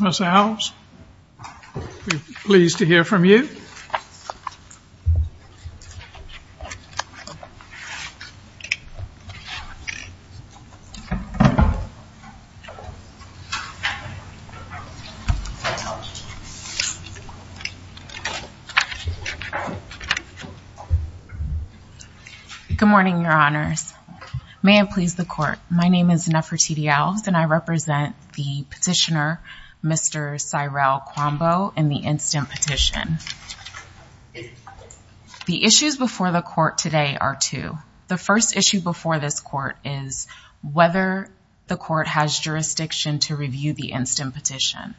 Ms. Alves, we're pleased to hear from you. Good morning, Your Honors. May it please the Court, my name is Nefertiti Alves, and I represent the petitioner, Mr. Cyrille Kouambo, in the instant petition. The issues before the Court today are two. The first issue before this Court is whether the Court has jurisdiction to review the instant petition.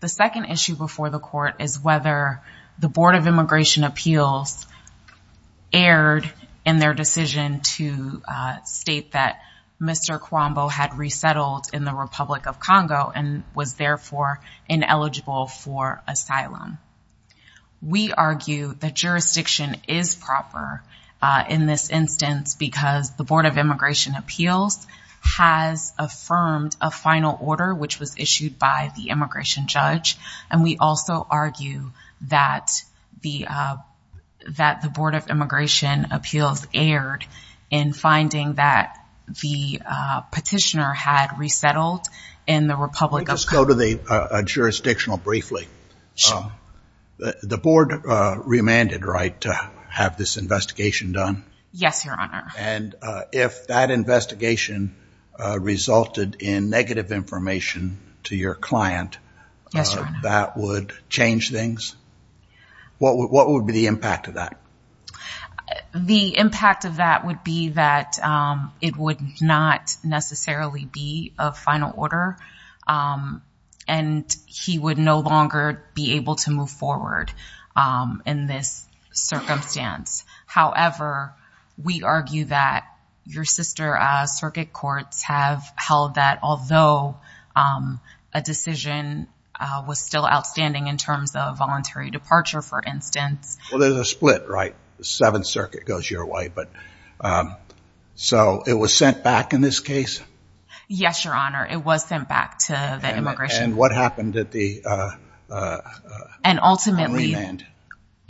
The second issue before the Court is whether the Board of Immigration Appeals erred in their decision to state that Mr. Kouambo had resettled in the Republic of Congo and was therefore ineligible for asylum. We argue that jurisdiction is proper in this instance because the Board of Immigration Appeals has affirmed a final order which was issued by the immigration judge, and we also erred in finding that the petitioner had resettled in the Republic of Congo. Let me just go to the jurisdictional briefly. The Board remanded, right, to have this investigation done? Yes, Your Honor. And if that investigation resulted in negative information to your client, that would change things? What would be the impact of that? The impact of that would be that it would not necessarily be a final order, and he would no longer be able to move forward in this circumstance. However, we argue that your sister circuit courts have held that although a decision was still outstanding in terms of voluntary departure, for instance. Well, there's a split, right? The Seventh Circuit goes your way. So it was sent back in this case? Yes, Your Honor. It was sent back to the immigration court. And what happened at the remand?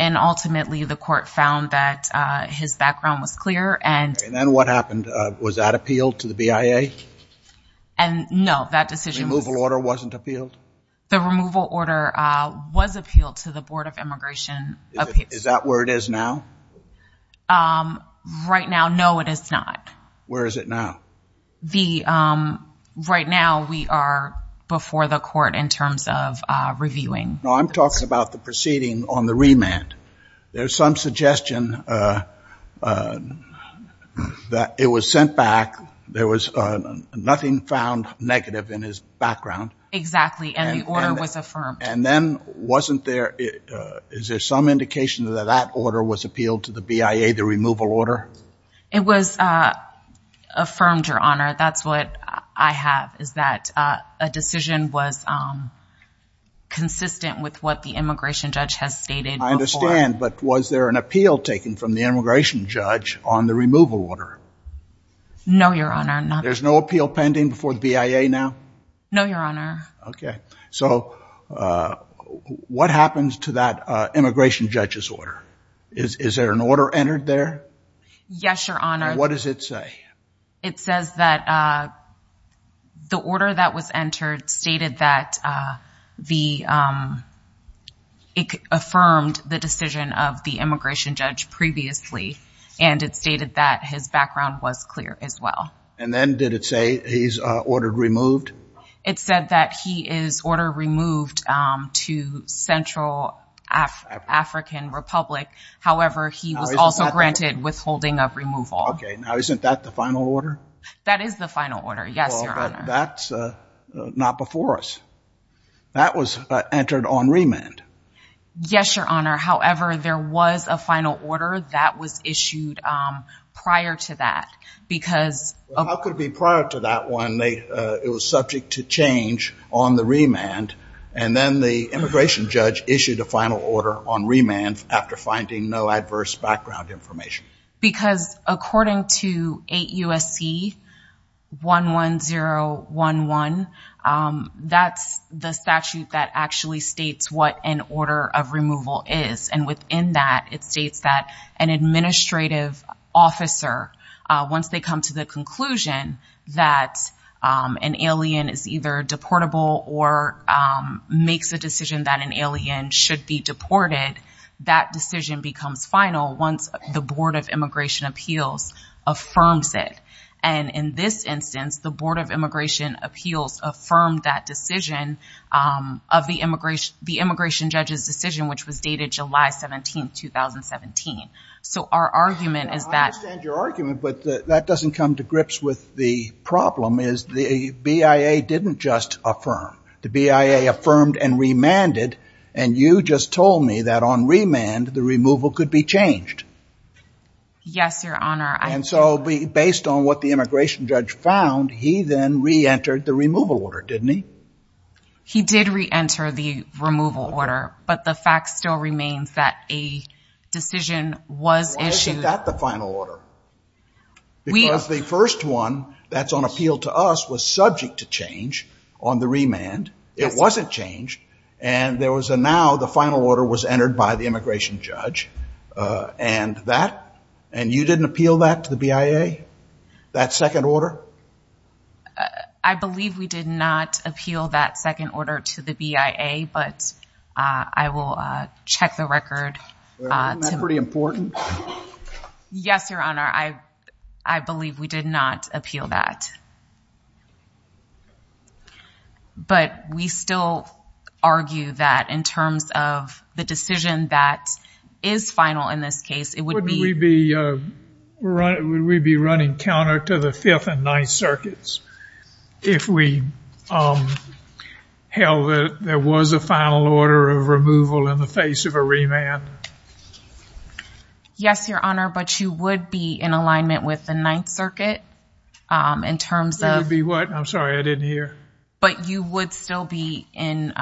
And ultimately, the court found that his background was clear, and. And then what happened? Was that appealed to the BIA? And no, that decision was. The removal order wasn't appealed? The removal order was appealed to the Board of Immigration Appeals. Is that where it is now? Right now, no, it is not. Where is it now? Right now, we are before the court in terms of reviewing. No, I'm talking about the proceeding on the remand. There's some suggestion that it was sent back. There was nothing found negative in his background. Exactly, and the order was affirmed. And then wasn't there, is there some indication that that order was appealed to the BIA, the removal order? It was affirmed, Your Honor. That's what I have, is that a decision was consistent with what the immigration judge has stated before. I understand, but was there an appeal taken from the immigration judge on the removal order? No, Your Honor, none. There's no appeal pending before the BIA now? No, Your Honor. Okay, so what happens to that immigration judge's order? Is there an order entered there? Yes, Your Honor. What does it say? It says that the order that was entered stated that it affirmed the decision of the immigration judge previously, and it stated that his background was clear as well. And then did it say he's ordered removed? It said that he is ordered removed to Central African Republic, however, he was also granted withholding of removal. Okay, now isn't that the final order? That is the final order, yes, Your Honor. Well, but that's not before us. That was entered on remand. Yes, Your Honor, however, there was a final order that was issued prior to that because How could it be prior to that when it was subject to change on the remand and then the immigration judge issued a final order on remand after finding no adverse background information? Because according to 8 U.S.C. 11011, that's the statute that actually states what an order of removal is, and within that, it states that an administrative officer, once they come to the conclusion that an alien is either deportable or makes a decision that an alien should be deported, that decision becomes final once the Board of Immigration Appeals affirms it. And in this instance, the Board of Immigration Appeals affirmed that decision of the immigration judge's decision, which was dated July 17, 2017. So our argument is that... I understand your argument, but that doesn't come to grips with the problem is the BIA didn't just affirm. The BIA affirmed and remanded, and you just told me that on remand, the removal could be changed. Yes, Your Honor. And so based on what the immigration judge found, he then re-entered the removal order, didn't he? He did re-enter the removal order, but the fact still remains that a decision was issued... Why isn't that the final order? Because the first one that's on appeal to us was subject to change on the remand. It wasn't changed, and there was a now, the final order was entered by the immigration judge, and that, and you didn't appeal that to the BIA, that second order? I believe we did not appeal that second order to the BIA, but I will check the record to... Isn't that pretty important? Yes, Your Honor, I believe we did not appeal that, but we still argue that in terms of the decision that is final in this case, it would be... If we held that there was a final order of removal in the face of a remand. Yes, Your Honor, but you would be in alignment with the Ninth Circuit in terms of... You would be what? I'm sorry, I didn't hear. But you would still be in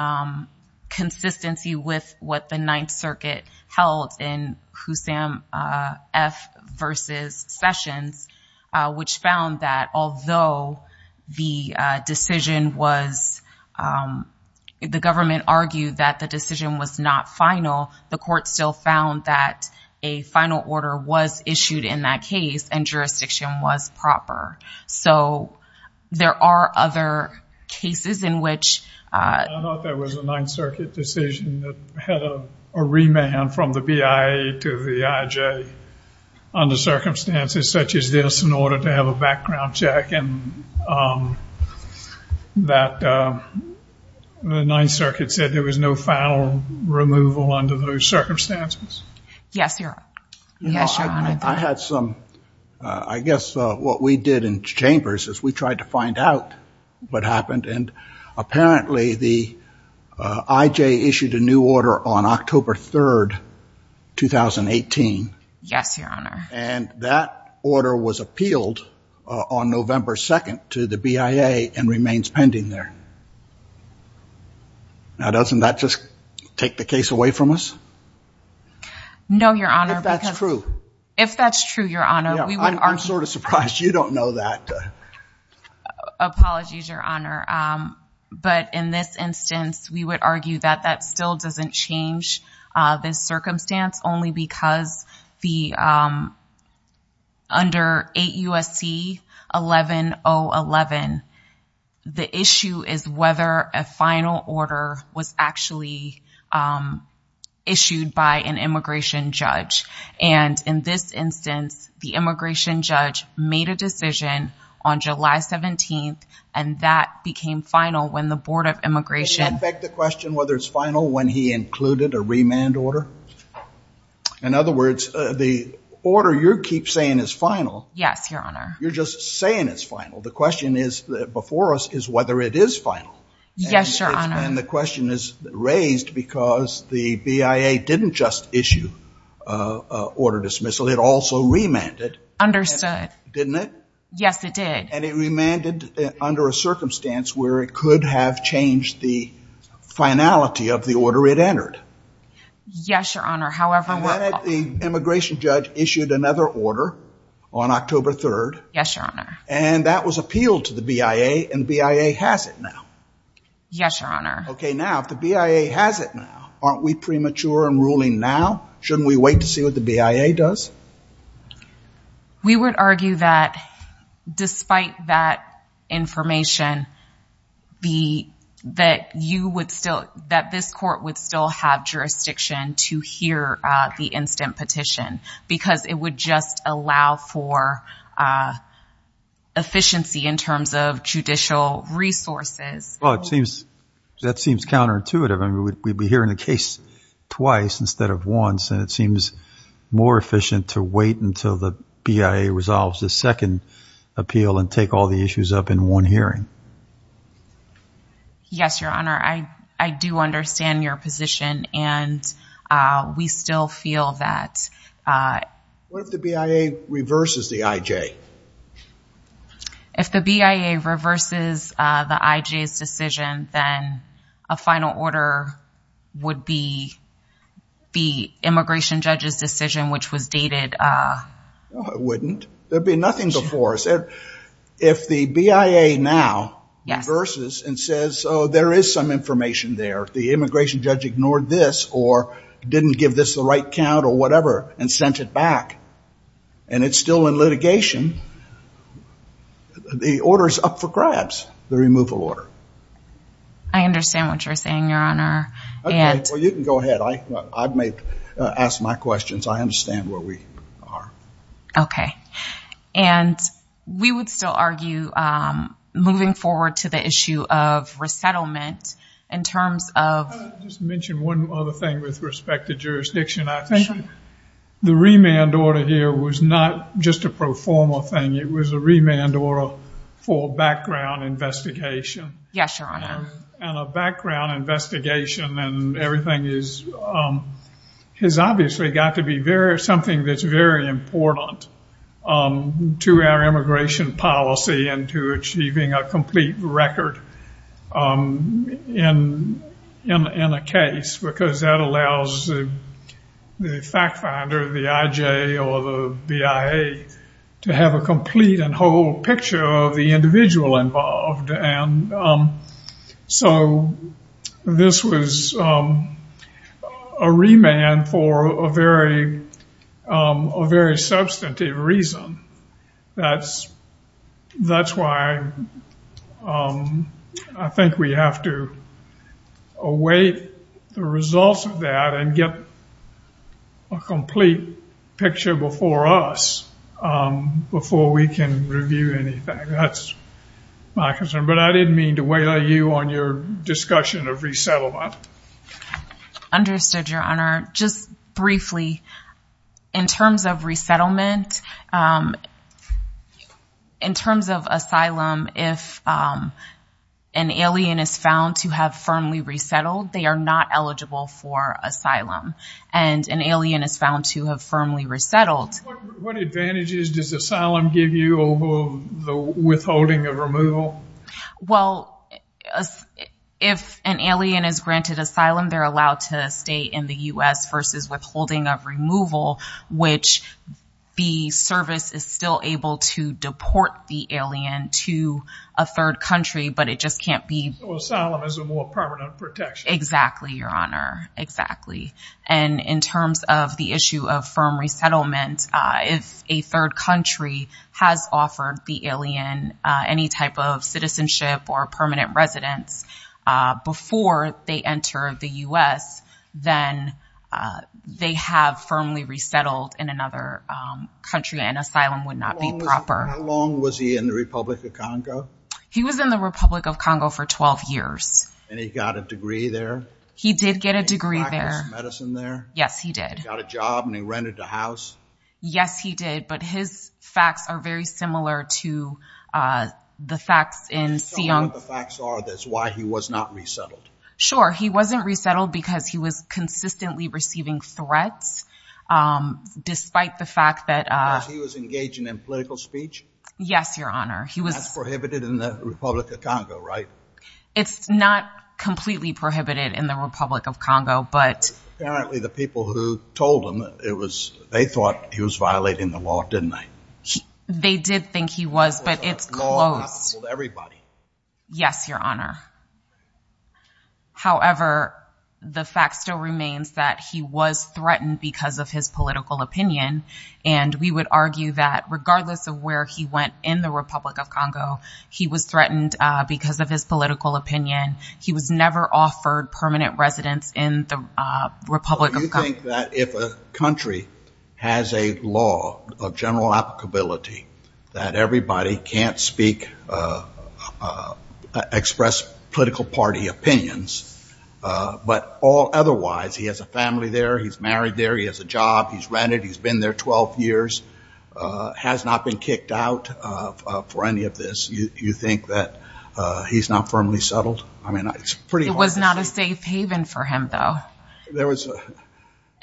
consistency with what the Ninth Circuit held in Hussam F. versus Sessions, which found that although the decision was... The government argued that the decision was not final, the court still found that a final order was issued in that case, and jurisdiction was proper. So, there are other cases in which... I thought that was a Ninth Circuit decision that had a remand from the BIA to the IJ. Under circumstances such as this, in order to have a background check, and that the Ninth Circuit said there was no final removal under those circumstances. Yes, Your Honor. Yes, Your Honor. I had some... I guess what we did in chambers is we tried to find out what happened, and apparently the IJ issued a new order on October 3rd, 2018. Yes, Your Honor. And that order was appealed on November 2nd to the BIA and remains pending there. Now, doesn't that just take the case away from us? No, Your Honor, because... If that's true. If that's true, Your Honor, we would argue... I'm sort of surprised you don't know that. Apologies, Your Honor. But in this instance, we would argue that that still doesn't change this circumstance, only because under 8 U.S.C. 11.0.11, the issue is whether a final order was actually issued by an immigration judge. And in this instance, the immigration judge made a decision on July 17th, and that became final when the Board of Immigration... Does that affect the question whether it's final when he included a remand order? In other words, the order you keep saying is final... Yes, Your Honor. You're just saying it's final. The question before us is whether it is final. Yes, Your Honor. And the question is raised because the BIA didn't just issue an order dismissal. It also remanded. Understood. Didn't it? Yes, it did. And it remanded under a circumstance where it could have changed the finality of the order it entered. Yes, Your Honor, however... And then the immigration judge issued another order on October 3rd. Yes, Your Honor. And that was appealed to the BIA, and the BIA has it now. Yes, Your Honor. Okay, now, if the BIA has it now, aren't we premature in ruling now? Shouldn't we wait to see what the BIA does? We would argue that despite that information, that this court would still have jurisdiction to hear the instant petition because it would just allow for efficiency in terms of judicial resources. Well, that seems counterintuitive. I mean, we'd be hearing the case twice instead of once, and it seems more efficient to wait until the BIA resolves the second appeal and take all the issues up in one hearing. Yes, Your Honor, I do understand your position, and we still feel that... What if the BIA reverses the IJ? If the BIA reverses the IJ's decision, then a final order would be the immigration judge's decision, which was dated... No, it wouldn't. There would be nothing before us. If the BIA now reverses and says, oh, there is some information there, the immigration judge ignored this or didn't give this the right count or whatever and sent it back, and it's still in litigation, the order's up for grabs, the removal order. I understand what you're saying, Your Honor. Well, you can go ahead. I may ask my questions. I understand where we are. Okay. And we would still argue moving forward to the issue of resettlement in terms of... I'll just mention one other thing with respect to jurisdiction. I think the remand order here was not just a pro forma thing. It was a remand order for background investigation. Yes, Your Honor. And a background investigation and everything has obviously got to be something that's very important to our immigration policy and to achieving a complete record in a case because that allows the fact finder, the IJ or the BIA, to have a complete and whole picture of the individual involved. And so this was a remand for a very substantive reason. That's why I think we have to await the results of that and get a complete picture before us before we can review anything. That's my concern. But I didn't mean to wail you on your discussion of resettlement. Understood, Your Honor. Just briefly, in terms of resettlement, in terms of asylum, if an alien is found to have firmly resettled, they are not eligible for asylum. And an alien is found to have firmly resettled. What advantages does asylum give you over the withholding of removal? Well, if an alien is granted asylum, they're allowed to stay in the U.S. versus withholding of removal, which the service is still able to deport the alien to a third country, but it just can't be. So asylum is a more permanent protection. Exactly, Your Honor, exactly. And in terms of the issue of firm resettlement, if a third country has offered the alien any type of citizenship or permanent residence before they enter the U.S., then they have firmly resettled in another country, and asylum would not be proper. How long was he in the Republic of Congo? He was in the Republic of Congo for 12 years. And he got a degree there? He did get a degree there. He got his medicine there? Yes, he did. He got a job and he rented a house? Yes, he did. But his facts are very similar to the facts in Siong. Tell me what the facts are that's why he was not resettled. Sure. He wasn't resettled because he was consistently receiving threats, despite the fact that— Because he was engaging in political speech? Yes, Your Honor. That's prohibited in the Republic of Congo, right? It's not completely prohibited in the Republic of Congo, but— Apparently the people who told him, they thought he was violating the law, didn't they? They did think he was, but it's closed. It's not possible to everybody. Yes, Your Honor. However, the fact still remains that he was threatened because of his political opinion, and we would argue that regardless of where he went in the Republic of Congo, he was threatened because of his political opinion. He was never offered permanent residence in the Republic of Congo. Do you think that if a country has a law of general applicability that everybody can't speak, express political party opinions, but all otherwise, he has a family there, he's married there, he has a job, he's rented, he's been there 12 years, has not been kicked out for any of this, you think that he's not firmly settled? It was not a safe haven for him, though.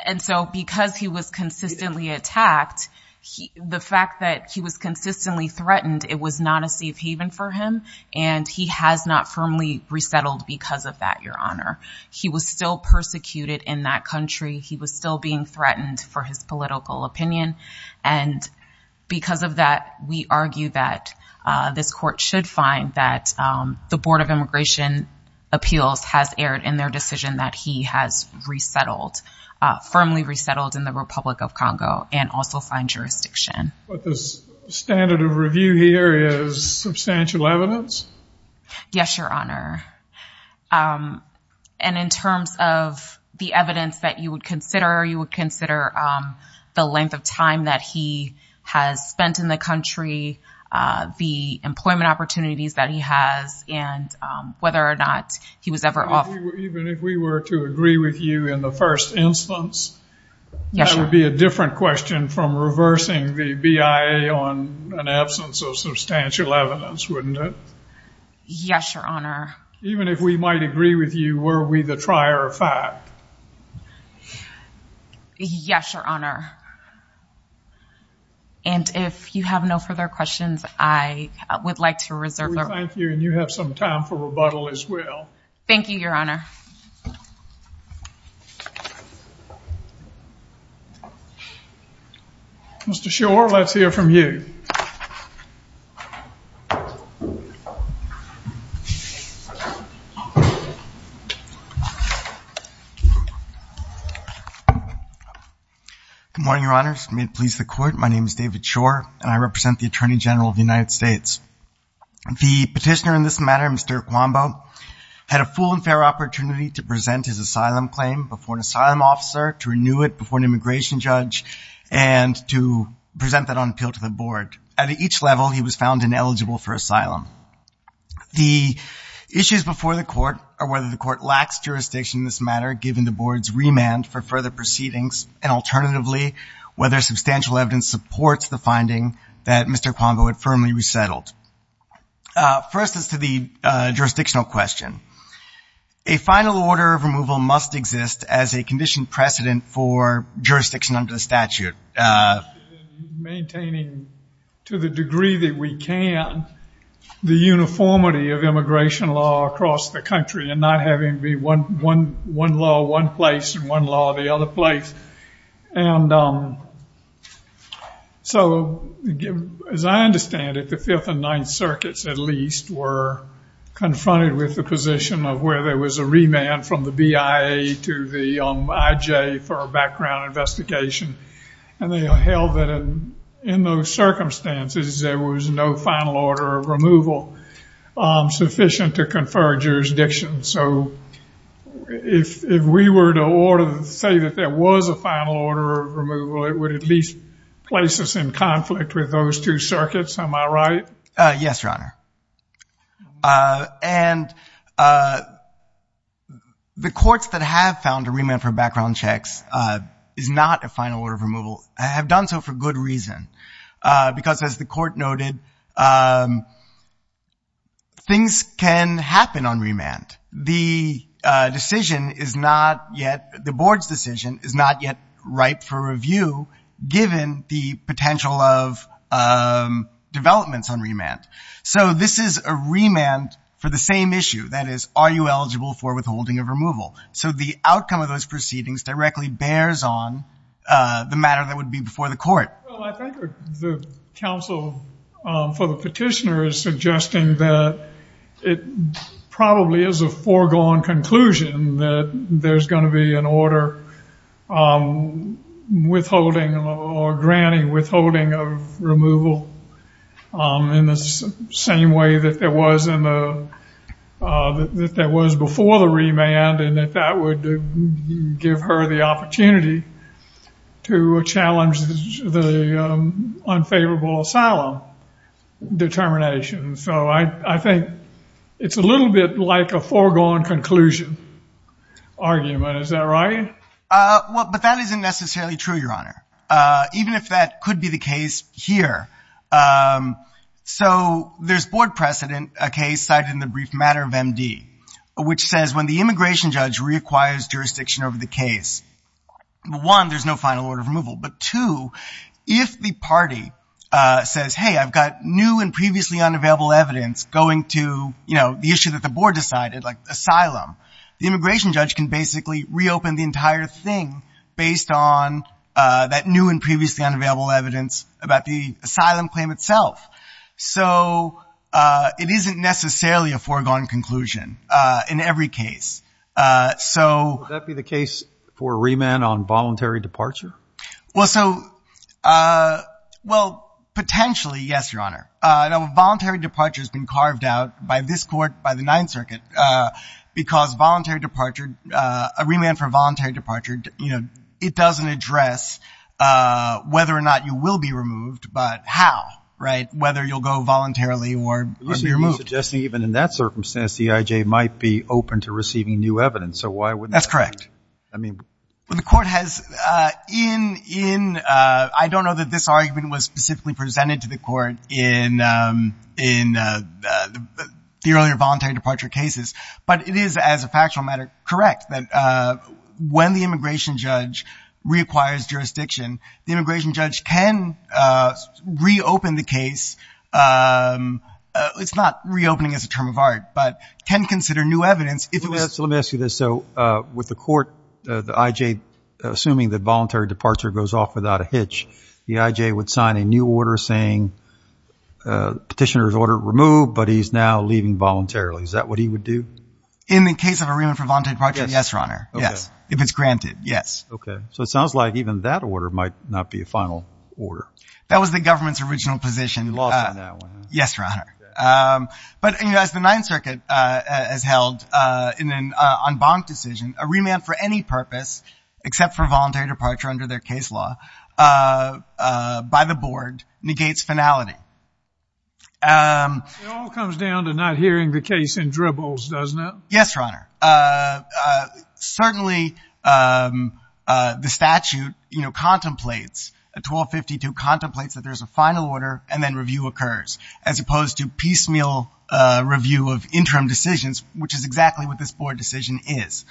And so because he was consistently attacked, the fact that he was consistently threatened, it was not a safe haven for him, and he has not firmly resettled because of that, Your Honor. He was still persecuted in that country. He was still being threatened for his political opinion, and because of that, we argue that this court should find that the Board of Immigration Appeals has erred in their decision that he has resettled, firmly resettled in the Republic of Congo and also signed jurisdiction. But the standard of review here is substantial evidence? Yes, Your Honor. And in terms of the evidence that you would consider, you would consider the length of time that he has spent in the country, the employment opportunities that he has, and whether or not he was ever off. Even if we were to agree with you in the first instance, that would be a different question from reversing the BIA on an absence of substantial evidence, wouldn't it? Yes, Your Honor. Even if we might agree with you, were we the trier of fact? Yes, Your Honor. And if you have no further questions, I would like to reserve the room. Thank you, and you have some time for rebuttal as well. Thank you, Your Honor. Mr. Shore, let's hear from you. Good morning, Your Honors. May it please the Court, my name is David Shore, and I represent the Attorney General of the United States. The petitioner in this matter, Mr. Kwambo, had a full and fair opportunity to present his asylum claim before an asylum officer, to renew it before an immigration judge, and to present that on appeal to the Board. At each level, he was found ineligible for asylum. The issues before the Court are whether the Court lacks jurisdiction in this matter, given the Board's remand for further proceedings, and alternatively, whether substantial evidence supports the finding that Mr. Kwambo had firmly resettled. First is to the jurisdictional question. A final order of removal must exist as a conditioned precedent for jurisdiction under the statute. Maintaining, to the degree that we can, the uniformity of immigration law across the country, and not having to be one law, one place, and one law, the other place. So, as I understand it, the Fifth and Ninth Circuits, at least, were confronted with the position of where there was a remand from the BIA to the IJ for a background investigation. And they held that in those circumstances, there was no final order of removal sufficient to confer jurisdiction. So, if we were to say that there was a final order of removal, it would at least place us in conflict with those two circuits. Am I right? Yes, Your Honor. And the courts that have found a remand for background checks is not a final order of removal, and have done so for good reason. Because, as the court noted, things can happen on remand. The decision is not yet, the board's decision is not yet ripe for review, given the potential of developments on remand. So, this is a remand for the same issue, that is, are you eligible for withholding of removal? So, the outcome of those proceedings directly bears on the matter that would be before the court. Well, I think the counsel for the petitioner is suggesting that it probably is a foregone conclusion that there's going to be an order withholding or granting, withholding of removal in the same way that there was before the remand, and that that would give her the opportunity to challenge the unfavorable asylum determination. So, I think it's a little bit like a foregone conclusion argument. Is that right? Well, but that isn't necessarily true, Your Honor, even if that could be the case here. So, there's board precedent, a case cited in the brief matter of MD, which says when the immigration judge reacquires jurisdiction over the case, one, there's no final order of removal, but two, if the party says, hey, I've got new and previously unavailable evidence going to the issue that the board decided, like asylum, the immigration judge can basically reopen the entire thing based on that new and previously unavailable evidence about the asylum claim itself. So, it isn't necessarily a foregone conclusion in every case. So, Would that be the case for remand on voluntary departure? Well, so, well, potentially, yes, Your Honor. Now, voluntary departure has been carved out by this court, by the Ninth Circuit, because voluntary departure, a remand for voluntary departure, it doesn't address whether or not you will be removed, but how, right? Whether you'll go voluntarily or you'll be removed. You're suggesting even in that circumstance, the EIJ might be open to receiving new evidence. So, why wouldn't that be? That's correct. I mean. Well, the court has, in, in, I don't know that this argument was specifically presented to the court in, in the earlier voluntary departure cases, but it is as a factual matter, correct, that when the immigration judge reacquires jurisdiction, the immigration judge can reopen the case. It's not reopening as a term of art, but can consider new evidence if it was. So, let me ask you this. So, with the court, the EIJ, assuming that voluntary departure goes off without a hitch, the EIJ would sign a new order saying petitioner's order removed, but he's now leaving voluntarily. Is that what he would do? In the case of a remand for voluntary departure? Yes, Your Honor. Yes. If it's granted. Yes. Okay. So, it sounds like even that order might not be a final order. That was the government's original position. You lost on that one. Yes, Your Honor. But, you know, as the Ninth Circuit has held in an en banc decision, a remand for any purpose except for voluntary departure under their case law by the board negates finality. It all comes down to not hearing the case in dribbles, doesn't it? Yes, Your Honor. Certainly, the statute, you know, contemplates, 1252, contemplates that there's a final order and then review occurs, as opposed to piecemeal review of interim decisions, which is exactly what this board decision is.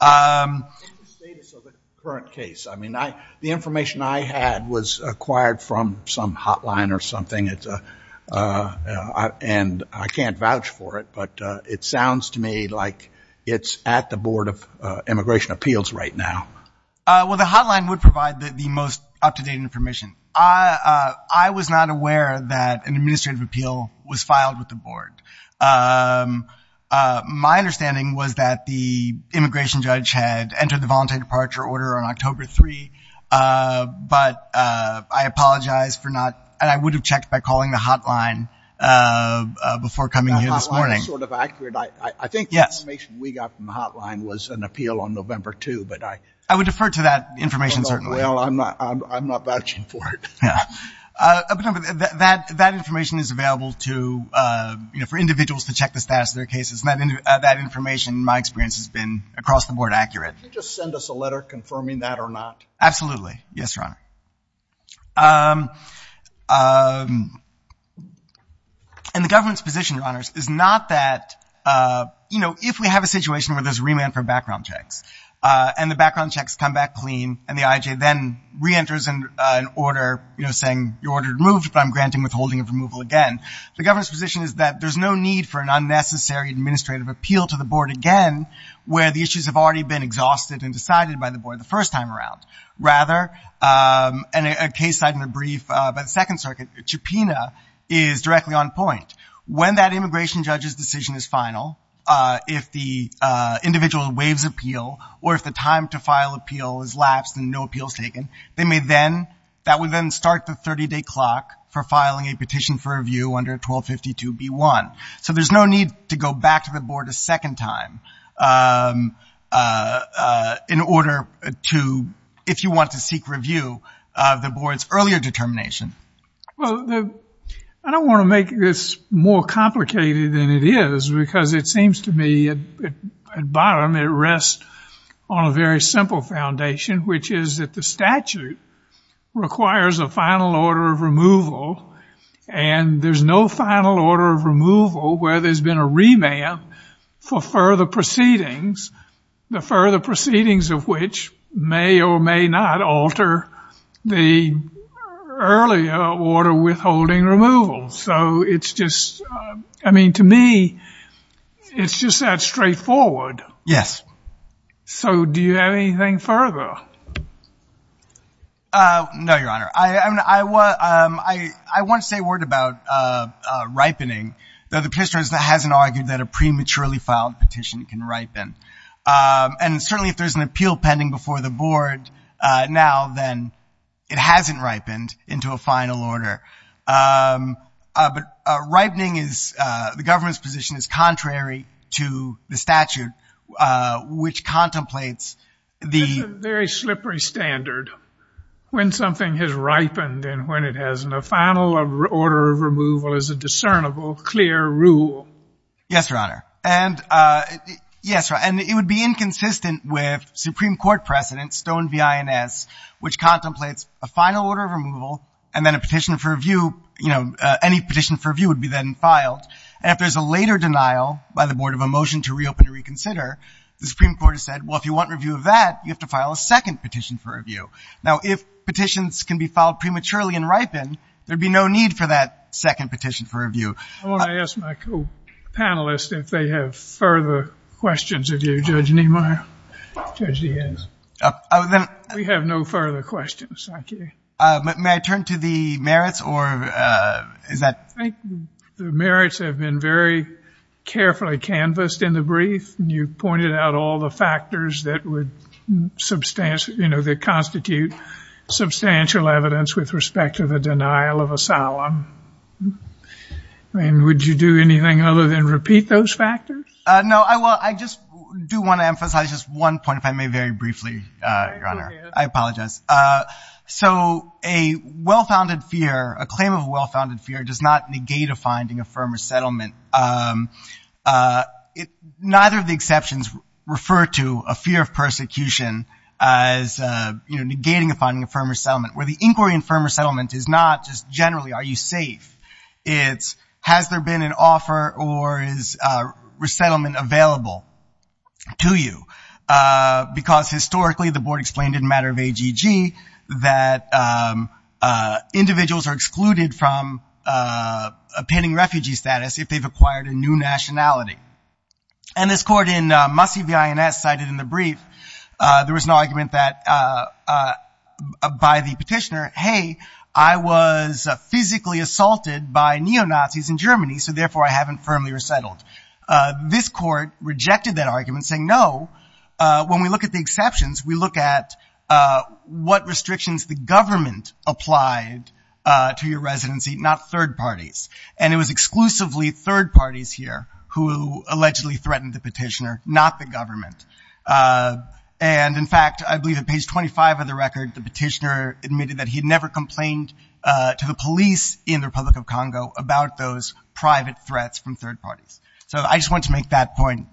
In the status of the current case, I mean, the information I had was acquired from some hotline or something, and I can't vouch for it, but it sounds to me like it's at the Board of Immigration Appeals right now. Well, the hotline would provide the most up-to-date information. I was not aware that an administrative appeal was filed with the board. My understanding was that the immigration judge had entered the voluntary departure order on October 3, but I apologize for not, and I would have checked by calling the hotline before coming here this morning. The hotline is sort of accurate. I think the information we got from the hotline was an appeal on November 2, but I. I would defer to that information, certainly. Well, I'm not vouching for it. That information is available to, you know, for individuals to check the status of their cases. That information, in my experience, has been across the board accurate. Could you just send us a letter confirming that or not? Absolutely. Yes, Your Honor. And the government's position, Your Honors, is not that, you know, if we have a situation where there's remand for background checks, and the background checks come back clean, and the IJ then reenters an order, you know, saying your order removed, but I'm granting withholding of removal again. The government's position is that there's no need for an unnecessary administrative appeal to the board again where the issues have already been exhausted and decided by the board the first time around. Rather, a case cited in a brief by the Second Circuit, Chepina, is directly on point. When that immigration judge's decision is final, if the individual waives appeal, or if the time to file appeal is lapsed and no appeal is taken, they may then, that would then start the 30-day clock for filing a petition for review under 1252B1. So there's no need to go back to the board a second time in order to, if you want to seek review of the board's earlier determination. Well, I don't want to make this more complicated than it is, because it seems to me at bottom it rests on a very simple foundation, which is that the statute requires a final order of removal, and there's no final order of removal where there's been a remand for further proceedings, the further proceedings of which may or may not alter the earlier order withholding removal. So it's just, I mean, to me, it's just that straightforward. Yes. So do you have anything further? No, Your Honor. I want to say a word about ripening, though the Petitioner hasn't argued that a prematurely filed petition can ripen. And certainly if there's an appeal pending before the board now, then it hasn't ripened into a final order. But ripening is, the government's position is contrary to the statute, which contemplates the- and a final order of removal is a discernible, clear rule. Yes, Your Honor. And it would be inconsistent with Supreme Court precedent, Stone v. INS, which contemplates a final order of removal and then a petition for review, you know, any petition for review would be then filed. And if there's a later denial by the board of a motion to reopen or reconsider, the Supreme Court has said, well, if you want review of that, you have to file a second petition for review. Now, if petitions can be filed prematurely and ripen, there'd be no need for that second petition for review. I want to ask my co-panelists if they have further questions of you, Judge Niemeyer. Judge Diaz. We have no further questions. Thank you. May I turn to the merits or is that- I think the merits have been very carefully canvassed in the brief. You pointed out all the factors that constitute substantial evidence with respect to the denial of asylum. I mean, would you do anything other than repeat those factors? No. Well, I just do want to emphasize just one point, if I may, very briefly, Your Honor. I apologize. So a well-founded fear, a claim of well-founded fear does not negate a finding of firm resettlement. Neither of the exceptions refer to a fear of persecution as, you know, negating a finding of firm resettlement, where the inquiry in firm resettlement is not just generally are you safe. It's has there been an offer or is resettlement available to you? Because historically the Board explained in the matter of AGG that individuals are excluded from obtaining refugee status if they've acquired a new nationality. And this court in Mussie v. INS cited in the brief there was an argument that by the petitioner, hey, I was physically assaulted by neo-Nazis in Germany, so therefore I haven't firmly resettled. This court rejected that argument, saying no. When we look at the exceptions, we look at what restrictions the government applied to your residency, not third parties. And it was exclusively third parties here who allegedly threatened the petitioner, not the government. And, in fact, I believe at page 25 of the record, the petitioner admitted that he never complained to the police in the Republic of Congo about those private threats from third parties. So I just wanted to make that point.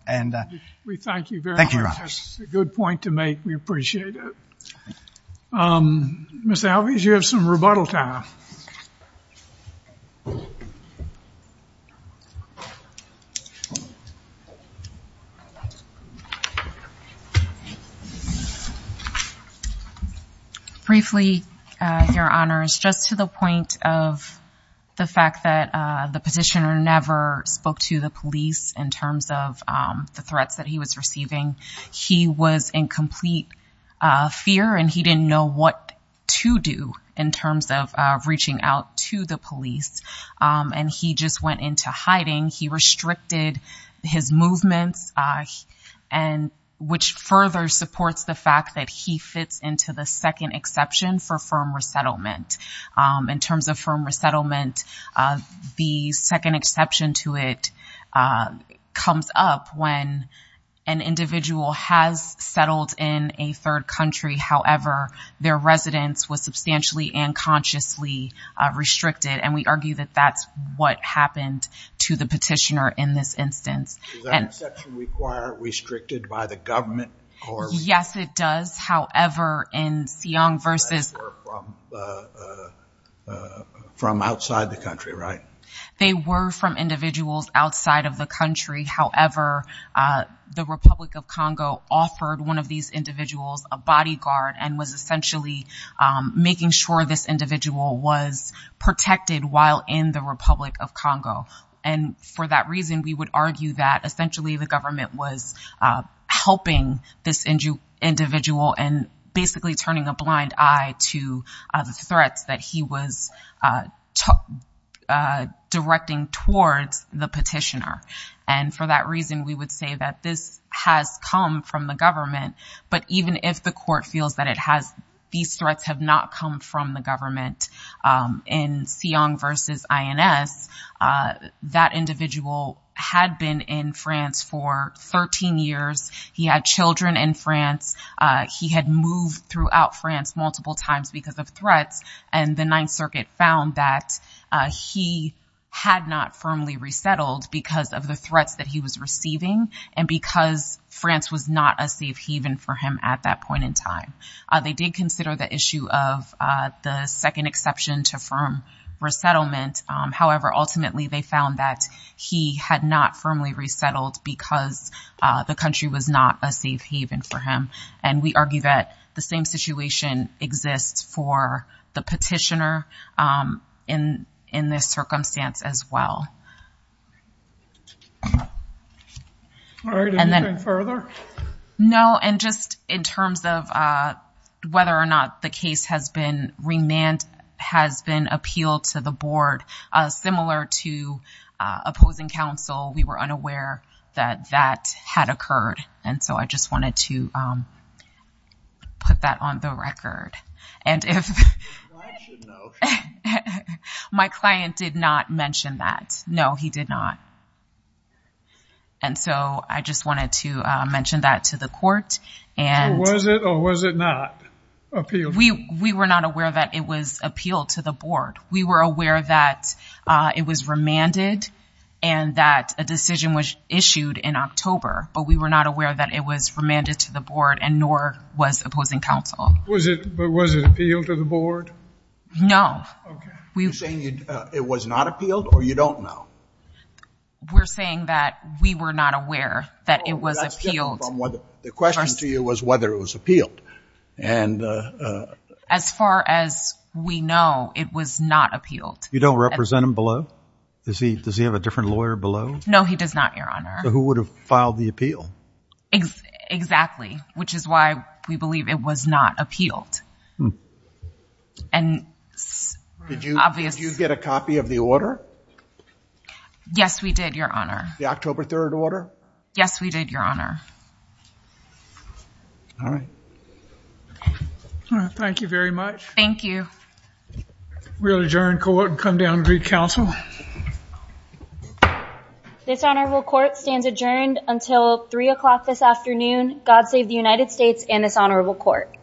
We thank you very much. Thank you, Your Honor. That's a good point to make. We appreciate it. Ms. Alvarez, you have some rebuttal time. Briefly, Your Honors, just to the point of the fact that the petitioner never spoke to the police in terms of the threats that he was receiving, he was in complete fear and he didn't know what to do in terms of reaching out to the police. And he just went into hiding. He restricted his movements, which further supports the fact that he fits into the second exception for firm resettlement. In terms of firm resettlement, the second exception to it comes up when an individual has settled in a third country. However, their residence was substantially and consciously restricted. And we argue that that's what happened to the petitioner in this instance. Does that exception require restricted by the government? Yes, it does. They were from outside the country, right? They were from individuals outside of the country. However, the Republic of Congo offered one of these individuals a bodyguard and was essentially making sure this individual was protected while in the Republic of Congo. And for that reason, we would argue that essentially the government was helping this individual and basically turning a blind eye to the threats that he was directing towards the petitioner. And for that reason, we would say that this has come from the government. But even if the court feels that these threats have not come from the government in Siong versus INS, that individual had been in France for 13 years. He had children in France. He had moved throughout France multiple times because of threats. And the Ninth Circuit found that he had not firmly resettled because of the threats that he was receiving and because France was not a safe haven for him at that point in time. They did consider the issue of the second exception to firm resettlement. However, ultimately, they found that he had not firmly resettled because the country was not a safe haven for him. And we argue that the same situation exists for the petitioner in this circumstance as well. All right. Anything further? No, and just in terms of whether or not the case has been remanded, has been appealed to the board, similar to opposing counsel, we were unaware that that had occurred. And so I just wanted to put that on the record. And if my client did not mention that, no, he did not. And so I just wanted to mention that to the court. So was it or was it not appealed? We were not aware that it was appealed to the board. We were aware that it was remanded and that a decision was issued in October. But we were not aware that it was remanded to the board and nor was opposing counsel. But was it appealed to the board? No. You're saying it was not appealed or you don't know? We're saying that we were not aware that it was appealed. The question to you was whether it was appealed. And as far as we know, it was not appealed. You don't represent him below? Does he have a different lawyer below? No, he does not, Your Honor. So who would have filed the appeal? Exactly, which is why we believe it was not appealed. Did you get a copy of the order? Yes, we did, Your Honor. The October 3rd order? Yes, we did, Your Honor. All right. Thank you very much. Thank you. We'll adjourn court and come down and greet counsel. This honorable court stands adjourned until 3 o'clock this afternoon. God save the United States and this honorable court.